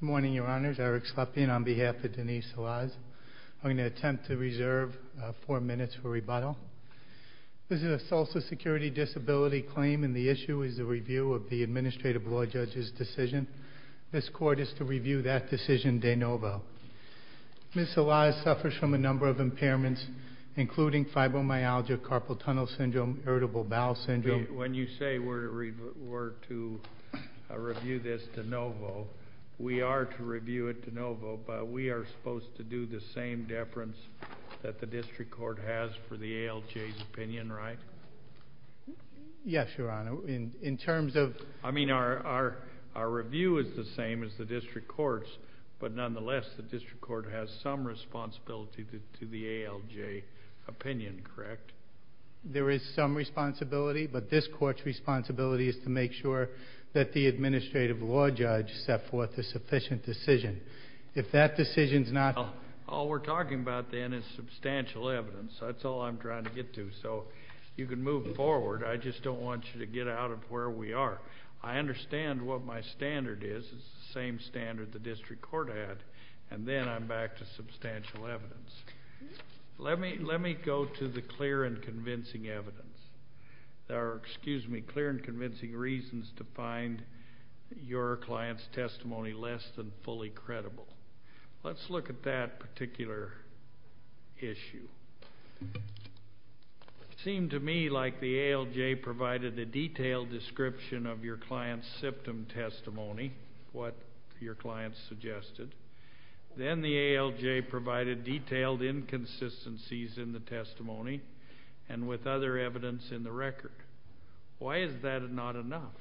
Good morning, your honors. Eric Slepian on behalf of Denise Salaz. I'm going to attempt to reserve four minutes for rebuttal. This is a social security disability claim and the issue is the review of the administrative law judge's decision. This court is to review that decision de novo. Ms. Salaz suffers from a number of impairments including fibromyalgia, carpal tunnel syndrome, irritable bowel syndrome. When you say we're to review this de novo, we are to review it de novo, but we are supposed to do the same deference that the district court has for the ALJ's opinion, right? Yes, your honor. In terms of... I mean our review is the same as the district court's, but nonetheless the district court has some responsibility to the ALJ opinion, correct? There is some responsibility, but this court's responsibility is to make sure that the administrative law judge set forth a sufficient decision. If that decision is not... All we're talking about then is substantial evidence. That's all I'm trying to get to, so you can move forward. I just don't want you to get out of where we are. I understand what my standard is. It's the same standard the district court had, and then I'm back to substantial evidence. Let me go to the clear and convincing evidence, or excuse me, clear and convincing reasons to find your client's testimony less than fully credible. Let's look at that particular issue. It seemed to me like the ALJ provided a detailed description of your client's symptom testimony, what your client suggested. Then the ALJ provided detailed inconsistencies in the testimony, and with other evidence in the record. Why is that not enough?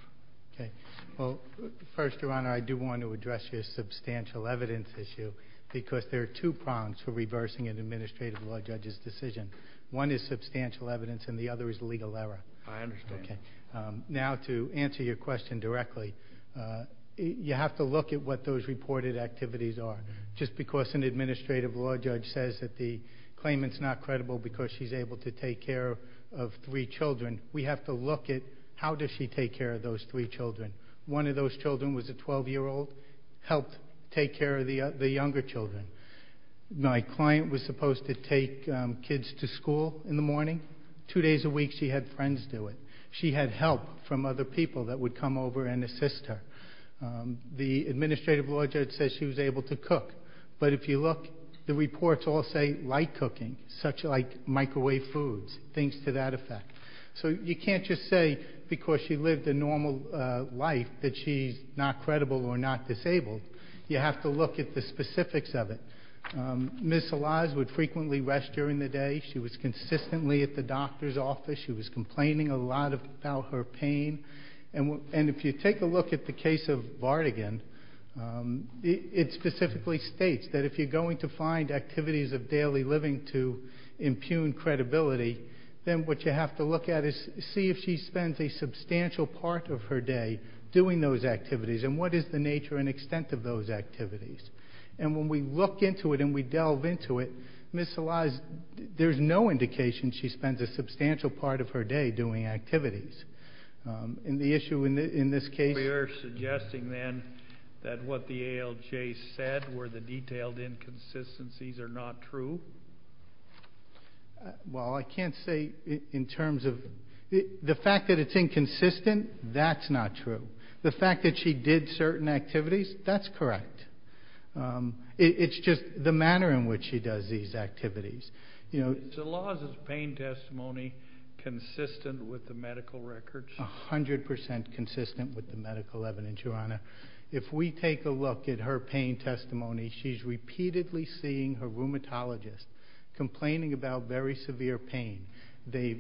First, your honor, I do want to address your substantial evidence issue, because there are two prongs to reversing an administrative law judge's decision. One is substantial evidence, and the other is legal error. I understand. Now to answer your question directly, you have to look at what those reported activities are. Just because an administrative law judge says that the claimant's not credible because she's able to take care of three children, we have to look at how does she take care of those three children. One of those children was a 12-year-old, helped take care of the younger children. My client was supposed to take kids to school in the morning. Two days a week, she had friends do it. She had help from other people that would come over and assist her. The administrative law judge said she was able to cook. But if you look, the reports all say light cooking, such like microwave foods, things to that effect. So you can't just say because she lived a normal life that she's not credible or not disabled. You have to look at the specifics of it. Ms. Salaz would frequently rest during the day. She was consistently at the doctor's office. She was complaining a lot about her pain. And if you take a look at the case of Vardigan, it specifically states that if you're going to find activities of daily living to impugn credibility, then what you have to look at is see if she spends a substantial part of her day doing those activities, and what is the nature and extent of those activities. And when we look into it and we delve into it, Ms. Salaz, there's no indication she spends a substantial part of her day doing activities. And the issue in this case... You're suggesting then that what the ALJ said were the detailed inconsistencies are not true? Well, I can't say in terms of... The fact that it's inconsistent, that's not true. The fact that she did certain activities, that's correct. It's just the manner in which she does these activities. Is Salaz's pain testimony consistent with the medical records? A hundred percent consistent with the medical evidence, Your Honor. If we take a look at her pain testimony, she's repeatedly seeing her rheumatologist complaining about very severe pain. They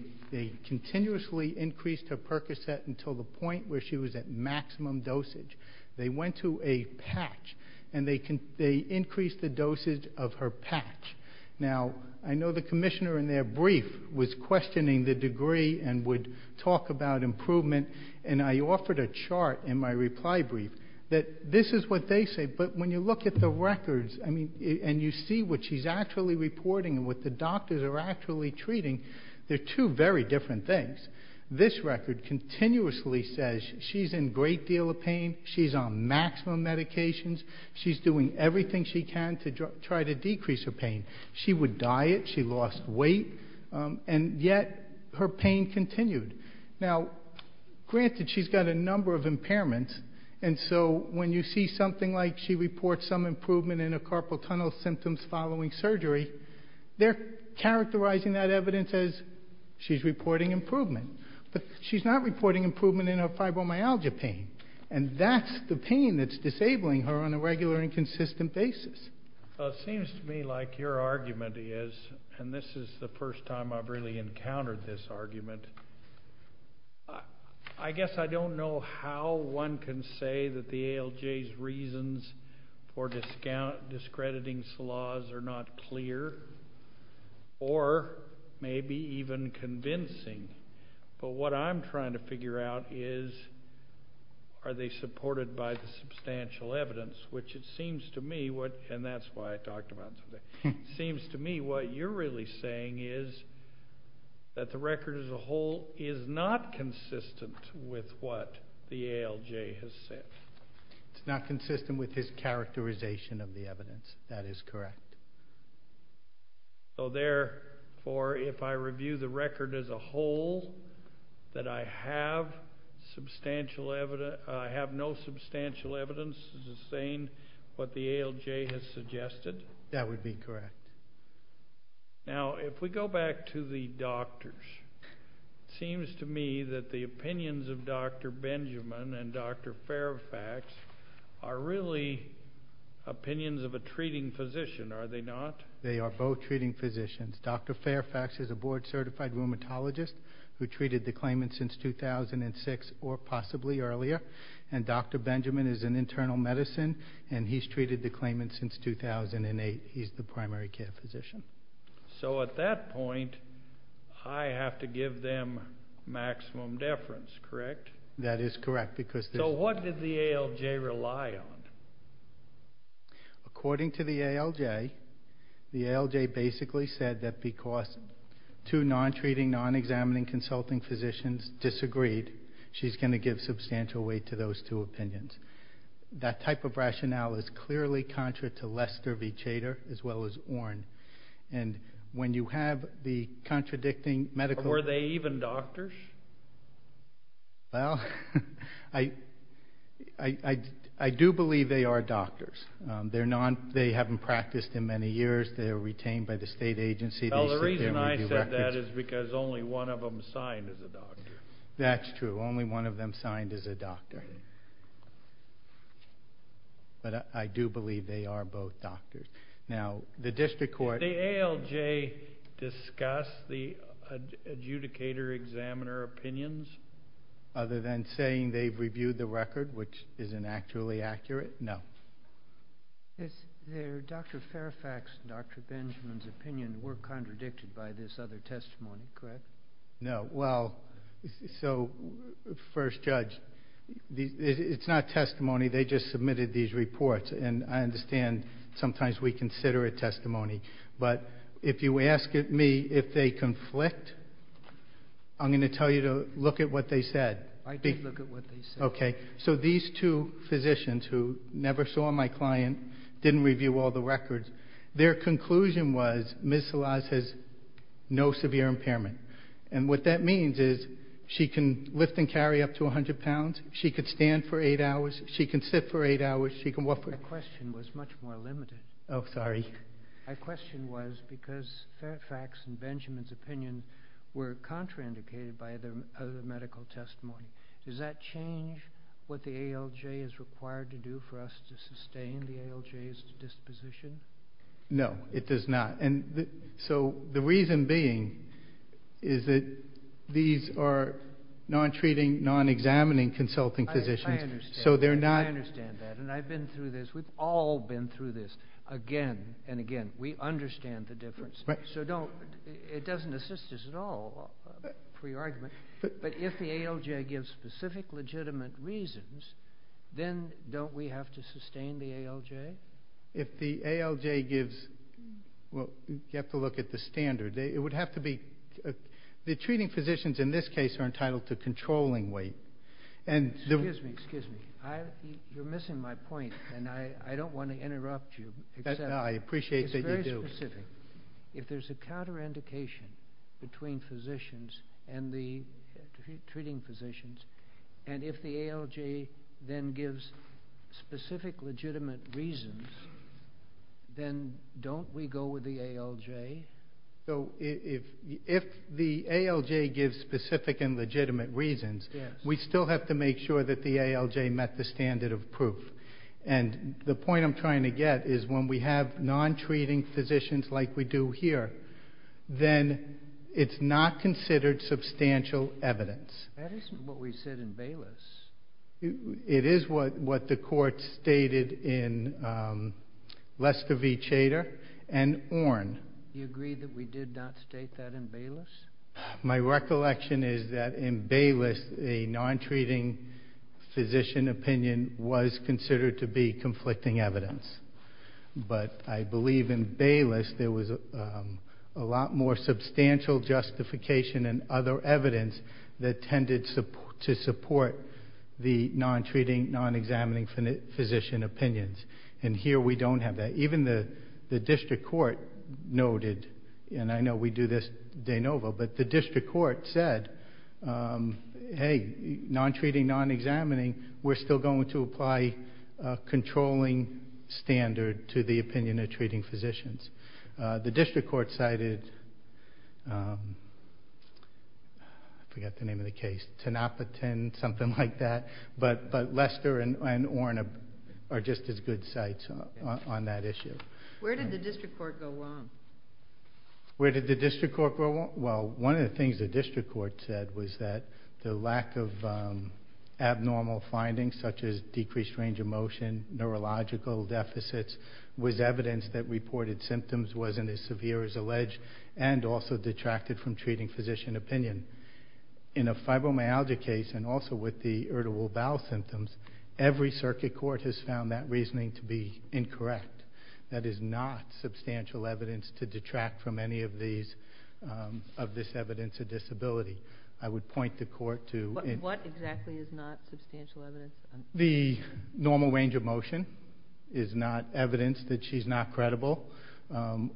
continuously increased her Percocet until the point where she was at maximum dosage. They went to a patch, and they increased the dosage of her patch. Now, I know the commissioner in their brief was questioning the degree and would talk about improvement, and I offered a chart in my reply brief that this is what they say, but when you look at the records and you see what she's actually reporting and what the doctors are actually treating, they're two very different things. This record continuously says she's in a great deal of pain, she's on maximum medications, she's doing everything she can to try to decrease her pain. She would diet, she lost weight, and yet her pain continued. Now, granted, she's got a number of impairments, and so when you see something like she reports some improvement in her carpal tunnel symptoms following surgery, they're characterizing that evidence as she's reporting improvement. But she's not reporting improvement in her fibromyalgia pain, and that's the pain that's disabling her on a regular and consistent basis. It seems to me like your argument is, and this is the first time I've really encountered this argument, I guess I don't know how one can say that the ALJ's reasons for discrediting SLAWs are not clear or maybe even convincing, but what I'm trying to figure out is are they supported by the substantial evidence, which it seems to me what, and that's why I talked about it today, seems to me what you're really saying is that the record as a whole is not consistent with what the ALJ has said. It's not consistent with his characterization of the evidence. That is correct. So, therefore, if I review the record as a whole, that I have no substantial evidence to sustain what the ALJ has suggested? That would be correct. Now, if we go back to the doctors, it seems to me that the opinions of Dr. Benjamin and Dr. Fairfax are really opinions of a treating physician, are they not? They are both treating physicians. Dr. Fairfax is a board-certified rheumatologist who treated the claimant since 2006 or possibly earlier, and Dr. Benjamin is an internal medicine, and he's treated the claimant since 2008. He's the primary care physician. So at that point, I have to give them maximum deference, correct? That is correct. So what did the ALJ rely on? According to the ALJ, the ALJ basically said that because two non-treating, non-examining consulting physicians disagreed, she's going to give substantial weight to those two opinions. That type of rationale is clearly contrary to Lester v. Chater, as well as Orn. And when you have the contradicting medical... Were they even doctors? Well, I do believe they are doctors. They haven't practiced in many years. They were retained by the state agency. Well, the reason I said that is because only one of them signed as a doctor. That's true. Only one of them signed as a doctor. But I do believe they are both doctors. Now, the district court... Did the ALJ discuss the adjudicator-examiner opinions? Other than saying they've reviewed the record, which isn't actually accurate? No. Dr. Fairfax and Dr. Benjamin's opinions were contradicted by this other testimony, correct? No. Well, so, first judge, it's not testimony. They just submitted these reports. And I understand sometimes we consider it testimony. But if you ask me if they conflict, I'm going to tell you to look at what they said. I did look at what they said. Okay. So these two physicians who never saw my client, didn't review all the records, their conclusion was Ms. Salaz has no severe impairment. And what that means is she can lift and carry up to 100 pounds. She can stand for eight hours. She can sit for eight hours. Her question was much more limited. Oh, sorry. Her question was because Fairfax and Benjamin's opinion were contraindicated by the medical testimony. Does that change what the ALJ is required to do for us to sustain the ALJ's disposition? No, it does not. And so the reason being is that these are non-treating, non-examining consulting physicians. I understand that. And I've been through this. We've all been through this again and again. We understand the difference. So it doesn't assist us at all, pre-argument. But if the ALJ gives specific legitimate reasons, then don't we have to sustain the ALJ? If the ALJ gives, well, you have to look at the standard. It would have to be, the treating physicians in this case are entitled to controlling weight. Excuse me, excuse me. You're missing my point, and I don't want to interrupt you. No, I appreciate that you do. If there's a counterindication between physicians and the treating physicians, and if the ALJ then gives specific legitimate reasons, then don't we go with the ALJ? So if the ALJ gives specific and legitimate reasons, we still have to make sure that the ALJ met the standard of proof. And the point I'm trying to get is when we have non-treating physicians like we do here, then it's not considered substantial evidence. That isn't what we said in Bayless. It is what the court stated in Leskovee-Chater and Ornn. You agree that we did not state that in Bayless? My recollection is that in Bayless a non-treating physician opinion was considered to be conflicting evidence. But I believe in Bayless there was a lot more substantial justification and other evidence that tended to support the non-treating, non-examining physician opinions. And here we don't have that. Even the district court noted, and I know we do this de novo, but the district court said, hey, non-treating, non-examining, we're still going to apply a controlling standard to the opinion of treating physicians. The district court cited, I forget the name of the case, Tenapatin, something like that. But Lester and Ornn are just as good sites on that issue. Where did the district court go wrong? Where did the district court go wrong? Well, one of the things the district court said was that the lack of abnormal findings, such as decreased range of motion, neurological deficits, was evidence that reported symptoms wasn't as severe as alleged and also detracted from treating physician opinion. In a fibromyalgia case and also with the irritable bowel symptoms, every circuit court has found that reasoning to be incorrect. That is not substantial evidence to detract from any of this evidence of disability. I would point the court to... What exactly is not substantial evidence? The normal range of motion is not evidence that she's not credible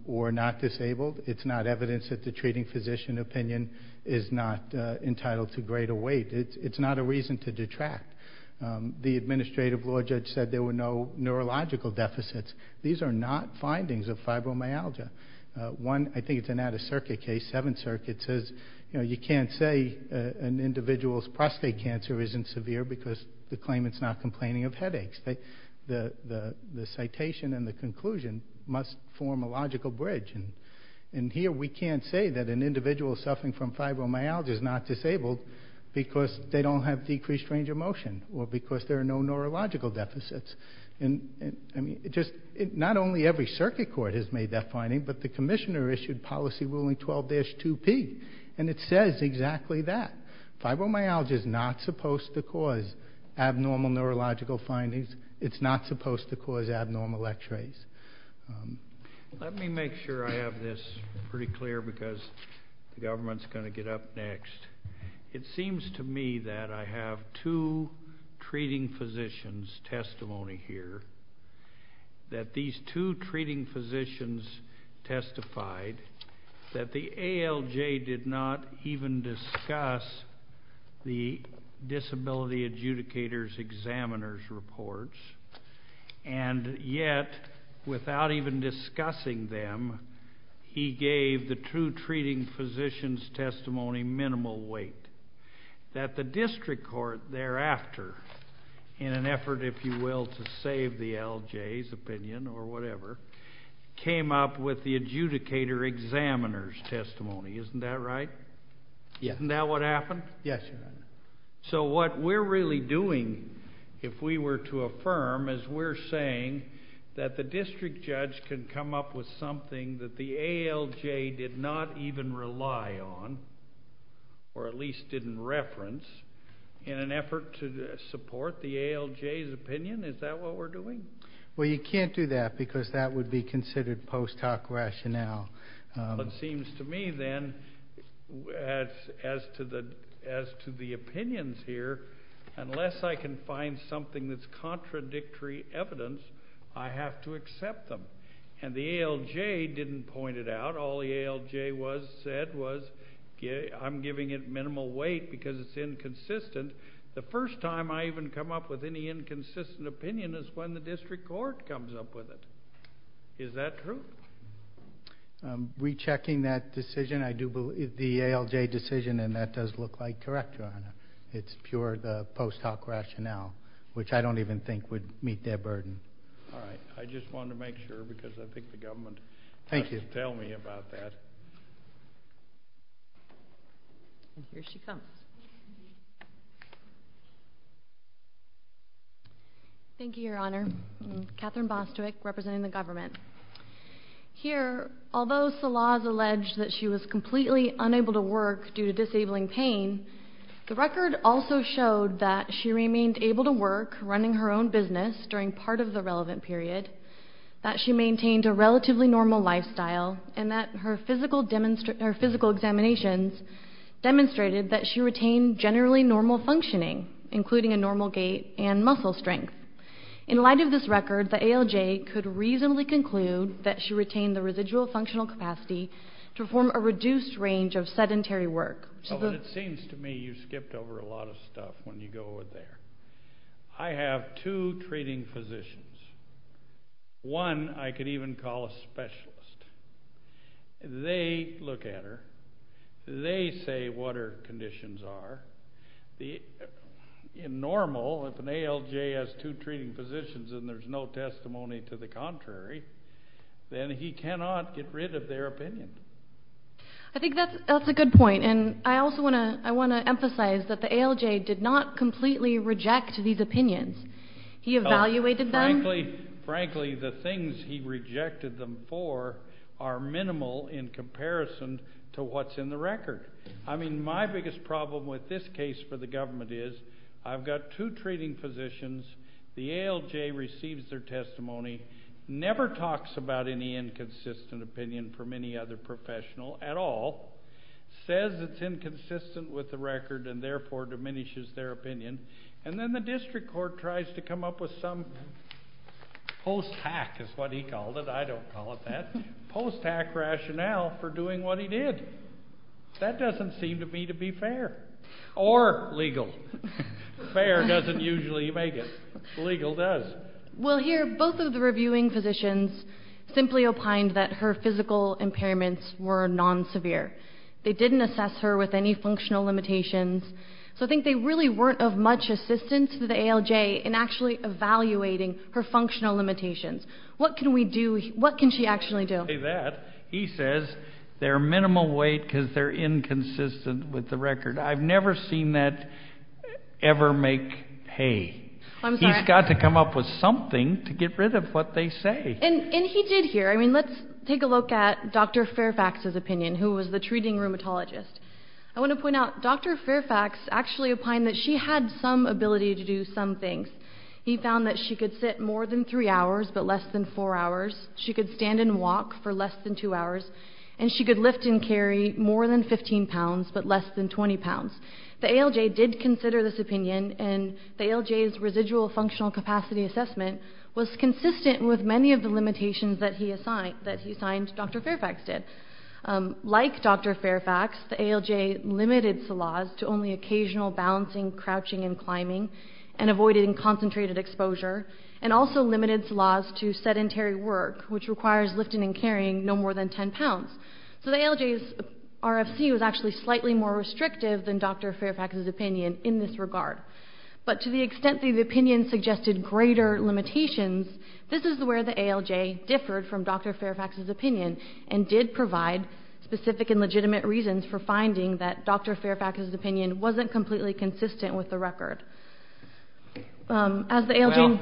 or not disabled. It's not evidence that the treating physician opinion is not entitled to greater weight. It's not a reason to detract. The administrative law judge said there were no neurological deficits. These are not findings of fibromyalgia. One, I think it's an out-of-circuit case, Seventh Circuit, says you can't say an individual's prostate cancer isn't severe because the claimant's not complaining of headaches. The citation and the conclusion must form a logical bridge. Here we can't say that an individual suffering from fibromyalgia is not disabled because they don't have decreased range of motion or because there are no neurological deficits. Not only every circuit court has made that finding, but the commissioner issued policy ruling 12-2P, and it says exactly that. Fibromyalgia is not supposed to cause abnormal neurological findings. It's not supposed to cause abnormal X-rays. Let me make sure I have this pretty clear because the government's going to get up next. It seems to me that I have two treating physicians' testimony here, that these two treating physicians testified that the ALJ did not even discuss the disability adjudicator's examiner's reports, and yet, without even discussing them, he gave the two treating physicians' testimony minimal weight, that the district court thereafter, in an effort, if you will, to save the ALJ's opinion or whatever, came up with the adjudicator examiner's testimony. Isn't that right? Yes. Isn't that what happened? Yes, Your Honor. So what we're really doing, if we were to affirm, is we're saying that the district judge can come up with something that the ALJ did not even rely on or at least didn't reference in an effort to support the ALJ's opinion? Is that what we're doing? Well, you can't do that because that would be considered post hoc rationale. It seems to me, then, as to the opinions here, unless I can find something that's contradictory evidence, I have to accept them. And the ALJ didn't point it out. All the ALJ said was, I'm giving it minimal weight because it's inconsistent. The first time I even come up with any inconsistent opinion is when the district court comes up with it. Is that true? Rechecking that decision, I do believe the ALJ decision, and that does look like correct, Your Honor. It's pure post hoc rationale, which I don't even think would meet their burden. All right. I just wanted to make sure because I think the government has to tell me about that. Here she comes. Thank you, Your Honor. I'm Catherine Bostwick, representing the government. Here, although Salaz alleged that she was completely unable to work due to disabling pain, the record also showed that she remained able to work, running her own business during part of the relevant period, that she maintained a relatively normal lifestyle, and that her physical examinations demonstrated that she retained generally normal functioning, including a normal gait and muscle strength. In light of this record, the ALJ could reasonably conclude that she retained the residual functional capacity to perform a reduced range of sedentary work. It seems to me you skipped over a lot of stuff when you go over there. I have two treating physicians. One I could even call a specialist. They look at her. They say what her conditions are. In normal, if an ALJ has two treating physicians and there's no testimony to the contrary, then he cannot get rid of their opinion. I think that's a good point, and I also want to emphasize that the ALJ did not completely reject these opinions. He evaluated them. Frankly, the things he rejected them for are minimal in comparison to what's in the record. I mean, my biggest problem with this case for the government is I've got two treating physicians. The ALJ receives their testimony, never talks about any inconsistent opinion from any other professional at all, says it's inconsistent with the record and therefore diminishes their opinion, and then the district court tries to come up with some post-hack is what he called it. I don't call it that. Post-hack rationale for doing what he did. That doesn't seem to me to be fair or legal. Fair doesn't usually make it. Legal does. Well, here both of the reviewing physicians simply opined that her physical impairments were non-severe. They didn't assess her with any functional limitations, so I think they really weren't of much assistance to the ALJ in actually evaluating her functional limitations. What can we do? What can she actually do? He says they're minimal weight because they're inconsistent with the record. I've never seen that ever make hay. He's got to come up with something to get rid of what they say. And he did here. I mean, let's take a look at Dr. Fairfax's opinion, who was the treating rheumatologist. I want to point out Dr. Fairfax actually opined that she had some ability to do some things. He found that she could sit more than three hours but less than four hours, she could stand and walk for less than two hours, and she could lift and carry more than 15 pounds but less than 20 pounds. The ALJ did consider this opinion, and the ALJ's residual functional capacity assessment was consistent with many of the limitations that he assigned, that he assigned Dr. Fairfax did. Like Dr. Fairfax, the ALJ limited Salaz to only occasional balancing, crouching, and climbing, and avoiding concentrated exposure, and also limited Salaz to sedentary work, which requires lifting and carrying no more than 10 pounds. So the ALJ's RFC was actually slightly more restrictive than Dr. Fairfax's opinion in this regard. But to the extent the opinion suggested greater limitations, this is where the ALJ differed from Dr. Fairfax's opinion and did provide specific and legitimate reasons for finding that Dr. Fairfax's opinion wasn't completely consistent with the record. As the ALJ- Well,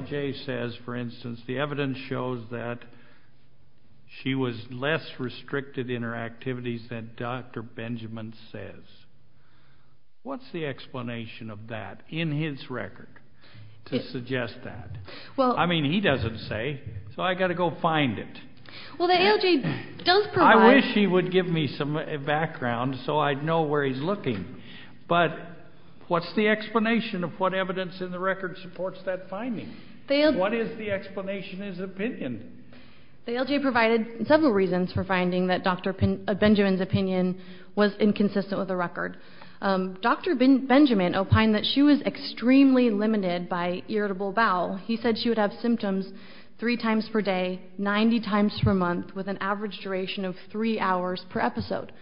the ALJ says, for instance, the evidence shows that she was less restricted in her activities than Dr. Benjamin says. What's the explanation of that in his record to suggest that? I mean, he doesn't say, so I've got to go find it. Well, the ALJ does provide- I wish he would give me some background so I'd know where he's looking. But what's the explanation of what evidence in the record supports that finding? What is the explanation of his opinion? The ALJ provided several reasons for finding that Dr. Benjamin's opinion was inconsistent with the record. Dr. Benjamin opined that she was extremely limited by irritable bowel. He said she would have symptoms three times per day, 90 times per month, with an average duration of three hours per episode.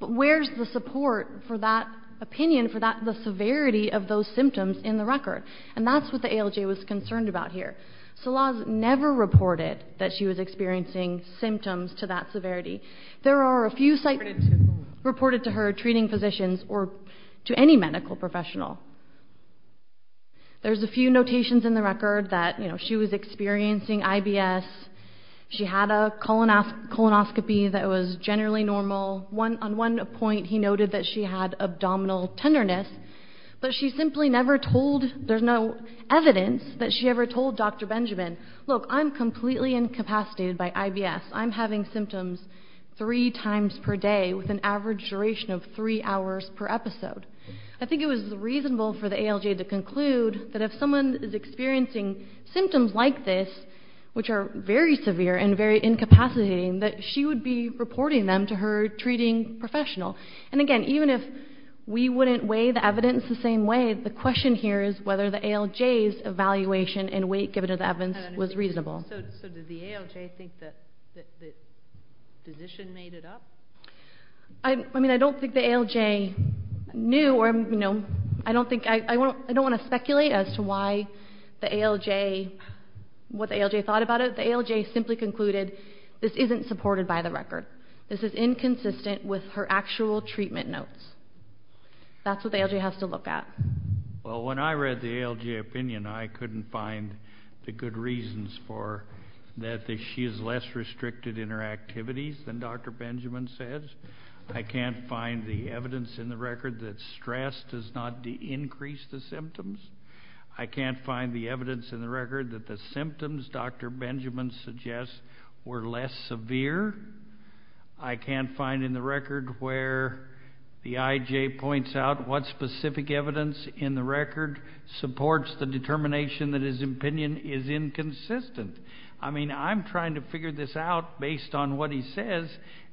But where's the support for that opinion, for the severity of those symptoms in the record? And that's what the ALJ was concerned about here. Salaz never reported that she was experiencing symptoms to that severity. There are a few- Reported to whom? Reported to her treating physicians or to any medical professional. There's a few notations in the record that, you know, she was experiencing IBS. She had a colonoscopy that was generally normal. On one point, he noted that she had abdominal tenderness. But she simply never told, there's no evidence that she ever told Dr. Benjamin, look, I'm completely incapacitated by IBS. I'm having symptoms three times per day with an average duration of three hours per episode. I think it was reasonable for the ALJ to conclude that if someone is experiencing symptoms like this, which are very severe and very incapacitating, that she would be reporting them to her treating professional. And, again, even if we wouldn't weigh the evidence the same way, the question here is whether the ALJ's evaluation and weight given to the evidence was reasonable. So did the ALJ think that the physician made it up? I mean, I don't think the ALJ knew or, you know, I don't think, I don't want to speculate as to why the ALJ, what the ALJ thought about it. The ALJ simply concluded this isn't supported by the record. This is inconsistent with her actual treatment notes. That's what the ALJ has to look at. Well, when I read the ALJ opinion, I couldn't find the good reasons for that she is less restricted in her activities than Dr. Benjamin says. I can't find the evidence in the record that stress does not increase the symptoms. I can't find the evidence in the record that the symptoms Dr. Benjamin suggests were less severe. I can't find in the record where the IJ points out what specific evidence in the record supports the determination that his opinion is inconsistent. I mean, I'm trying to figure this out based on what he says,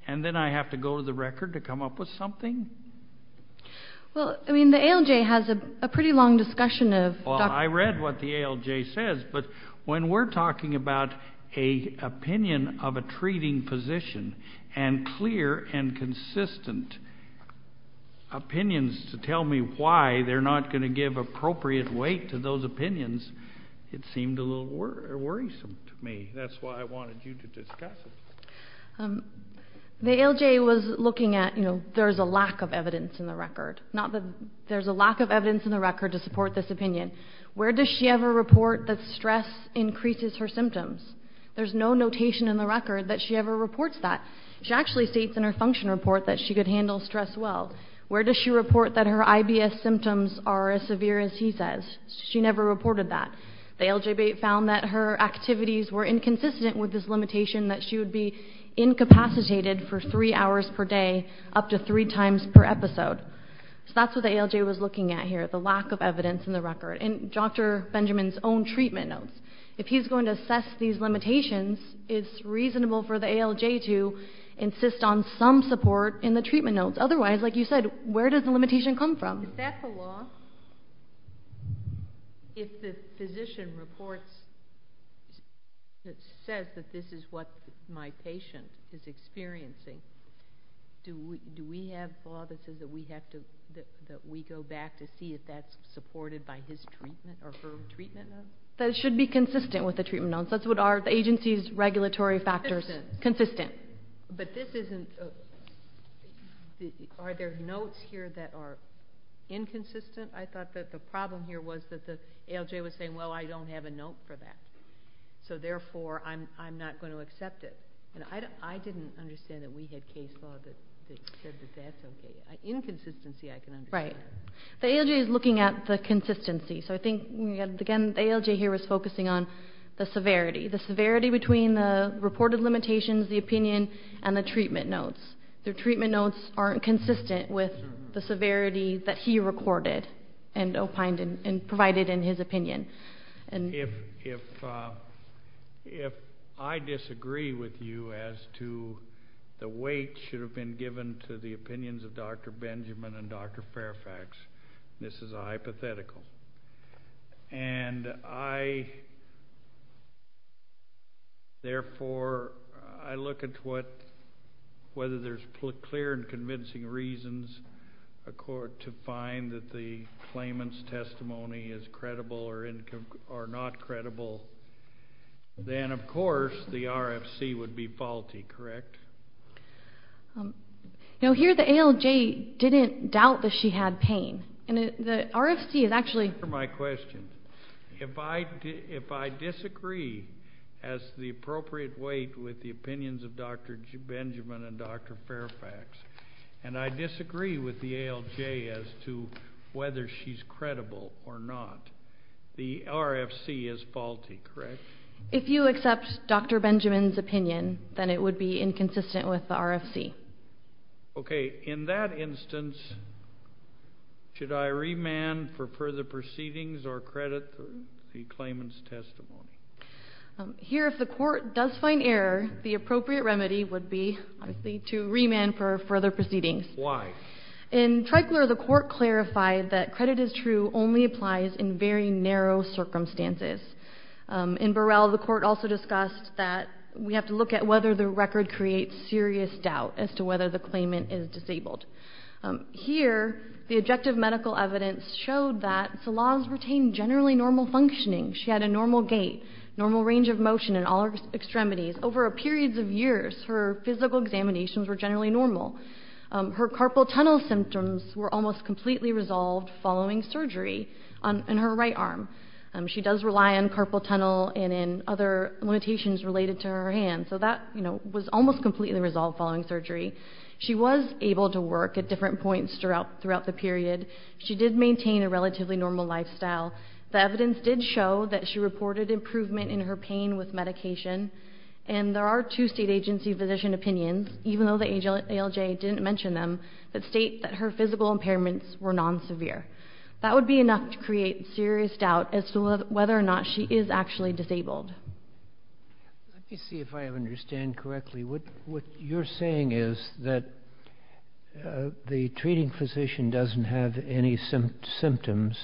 and then I have to go to the record to come up with something? Well, I mean, the ALJ has a pretty long discussion of Dr. Well, I read what the ALJ says, but when we're talking about an opinion of a treating physician and clear and consistent opinions to tell me why they're not going to give appropriate weight to those opinions, it seemed a little worrisome to me. That's why I wanted you to discuss it. The ALJ was looking at, you know, there's a lack of evidence in the record. There's a lack of evidence in the record to support this opinion. Where does she ever report that stress increases her symptoms? There's no notation in the record that she ever reports that. She actually states in her function report that she could handle stress well. Where does she report that her IBS symptoms are as severe as he says? She never reported that. The ALJ found that her activities were inconsistent with this limitation, that she would be incapacitated for three hours per day up to three times per episode. So that's what the ALJ was looking at here, the lack of evidence in the record. And Dr. Benjamin's own treatment notes, if he's going to assess these limitations, it's reasonable for the ALJ to insist on some support in the treatment notes. Otherwise, like you said, where does the limitation come from? Is that the law? If the physician reports that says that this is what my patient is experiencing, do we have law that says that we go back to see if that's supported by his treatment or her treatment notes? That it should be consistent with the treatment notes. Consistent. Consistent. But this isn't, are there notes here that are inconsistent? I thought that the problem here was that the ALJ was saying, well, I don't have a note for that. So therefore, I'm not going to accept it. And I didn't understand that we had case law that said that that's okay. Inconsistency I can understand. Right. The ALJ is looking at the consistency. So I think, again, the ALJ here was focusing on the severity. The severity between the reported limitations, the opinion, and the treatment notes. The treatment notes aren't consistent with the severity that he recorded and provided in his opinion. If I disagree with you as to the weight should have been given to the opinions of Dr. Benjamin and Dr. Fairfax, this is a hypothetical. And I, therefore, I look at whether there's clear and convincing reasons to find that the claimant's testimony is credible or not credible, then, of course, the RFC would be faulty. Correct? Here the ALJ didn't doubt that she had pain. And the RFC is actually. Answer my question. If I disagree as to the appropriate weight with the opinions of Dr. Benjamin and Dr. Fairfax, and I disagree with the ALJ as to whether she's credible or not, the RFC is faulty. Correct? If you accept Dr. Benjamin's opinion, then it would be inconsistent with the RFC. Okay. In that instance, should I remand for further proceedings or credit the claimant's testimony? Here if the court does find error, the appropriate remedy would be to remand for further proceedings. Why? In Treichler, the court clarified that credit is true only applies in very narrow circumstances. In Burrell, the court also discussed that we have to look at whether the record would create serious doubt as to whether the claimant is disabled. Here the objective medical evidence showed that Salaz retained generally normal functioning. She had a normal gait, normal range of motion in all her extremities. Over periods of years, her physical examinations were generally normal. Her carpal tunnel symptoms were almost completely resolved following surgery in her right arm. She does rely on carpal tunnel and in other limitations related to her hand. So that was almost completely resolved following surgery. She was able to work at different points throughout the period. She did maintain a relatively normal lifestyle. The evidence did show that she reported improvement in her pain with medication, and there are two state agency physician opinions, even though the ALJ didn't mention them, that state that her physical impairments were non-severe. That would be enough to create serious doubt as to whether or not she is actually disabled. Let me see if I understand correctly. What you're saying is that the treating physician doesn't have any symptoms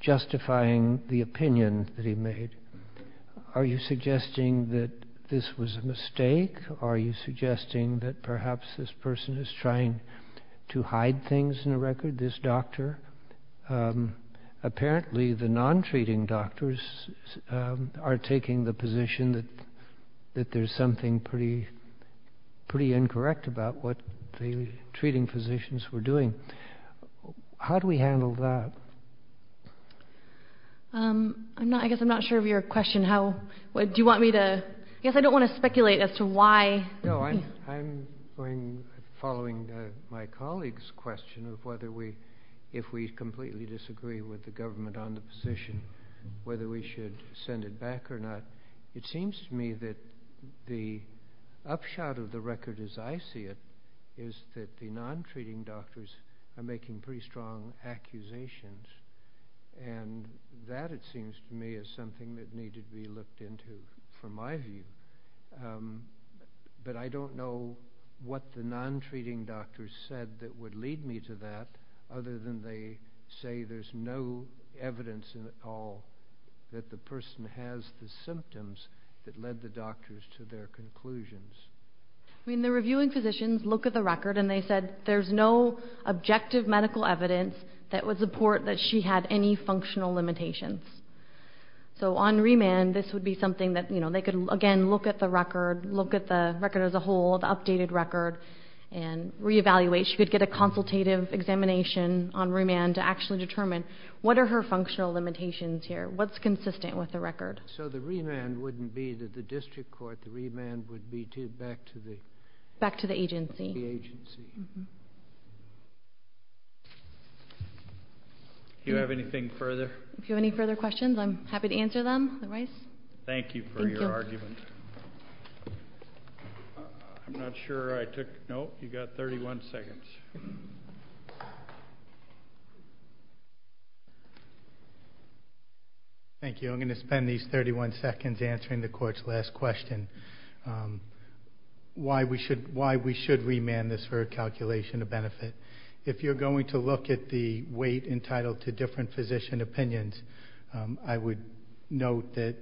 justifying the opinion that he made. Are you suggesting that this was a mistake? Are you suggesting that perhaps this person is trying to hide things in the record, this doctor? Apparently, the non-treating doctors are taking the position that there's something pretty incorrect about what the treating physicians were doing. How do we handle that? I guess I'm not sure of your question. Do you want me to? I guess I don't want to speculate as to why. No, I'm following my colleague's question of whether we, if we completely disagree with the government on the position, whether we should send it back or not. It seems to me that the upshot of the record as I see it is that the non-treating doctors are making pretty strong accusations, and that, it seems to me, is something that needed to be looked into from my view. But I don't know what the non-treating doctors said that would lead me to that other than they say there's no evidence at all that the person has the symptoms that led the doctors to their conclusions. I mean, the reviewing physicians look at the record and they said that there's no objective medical evidence that would support that she had any functional limitations. So on remand, this would be something that they could, again, look at the record, look at the record as a whole, the updated record, and reevaluate. She could get a consultative examination on remand to actually determine what are her functional limitations here, what's consistent with the record. So the remand wouldn't be to the district court. The remand would be back to the agency. Do you have anything further? If you have any further questions, I'm happy to answer them. Thank you for your argument. I'm not sure I took note. You've got 31 seconds. Thank you. I'm going to spend these 31 seconds answering the court's last question, why we should remand this for a calculation of benefit. If you're going to look at the weight entitled to different physician opinions, I would note that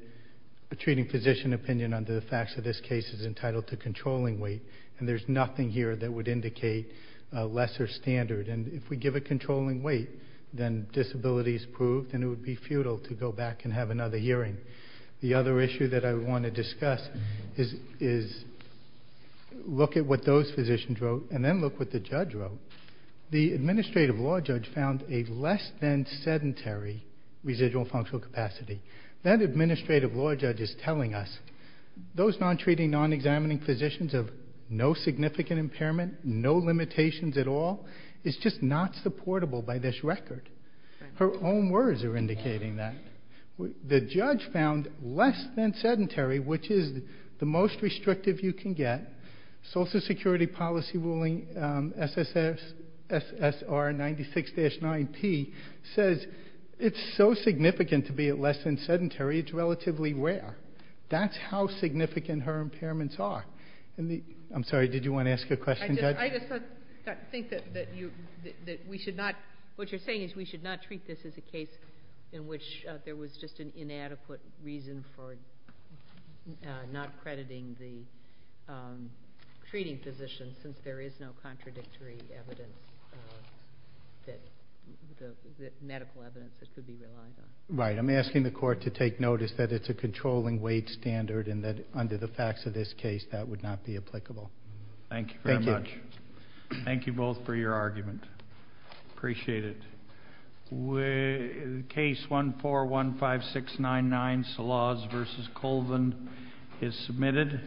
treating physician opinion under the facts of this case is entitled to controlling weight, and there's nothing here that would indicate a lesser standard. And if we give a controlling weight, then disability is proved, and it would be futile to go back and have another hearing. The other issue that I want to discuss is look at what those physicians wrote and then look what the judge wrote. The administrative law judge found a less than sedentary residual functional capacity. That administrative law judge is telling us those non-treating, non-examining physicians of no significant impairment, no limitations at all, is just not supportable by this record. Her own words are indicating that. The judge found less than sedentary, which is the most restrictive you can get. Social Security policy ruling SSR 96-9P says it's so significant to be at less than sedentary, it's relatively rare. That's how significant her impairments are. I'm sorry, did you want to ask a question, Judge? I just think that we should not, what you're saying is we should not treat this as a case in which there was just an inadequate reason for not crediting the treating physician since there is no contradictory evidence, medical evidence that could be relied on. Right, I'm asking the court to take notice that it's a controlling weight standard and that under the facts of this case that would not be applicable. Thank you very much. Thank you both for your argument. Appreciate it. Case 1415699, Salaz v. Colvin is submitted.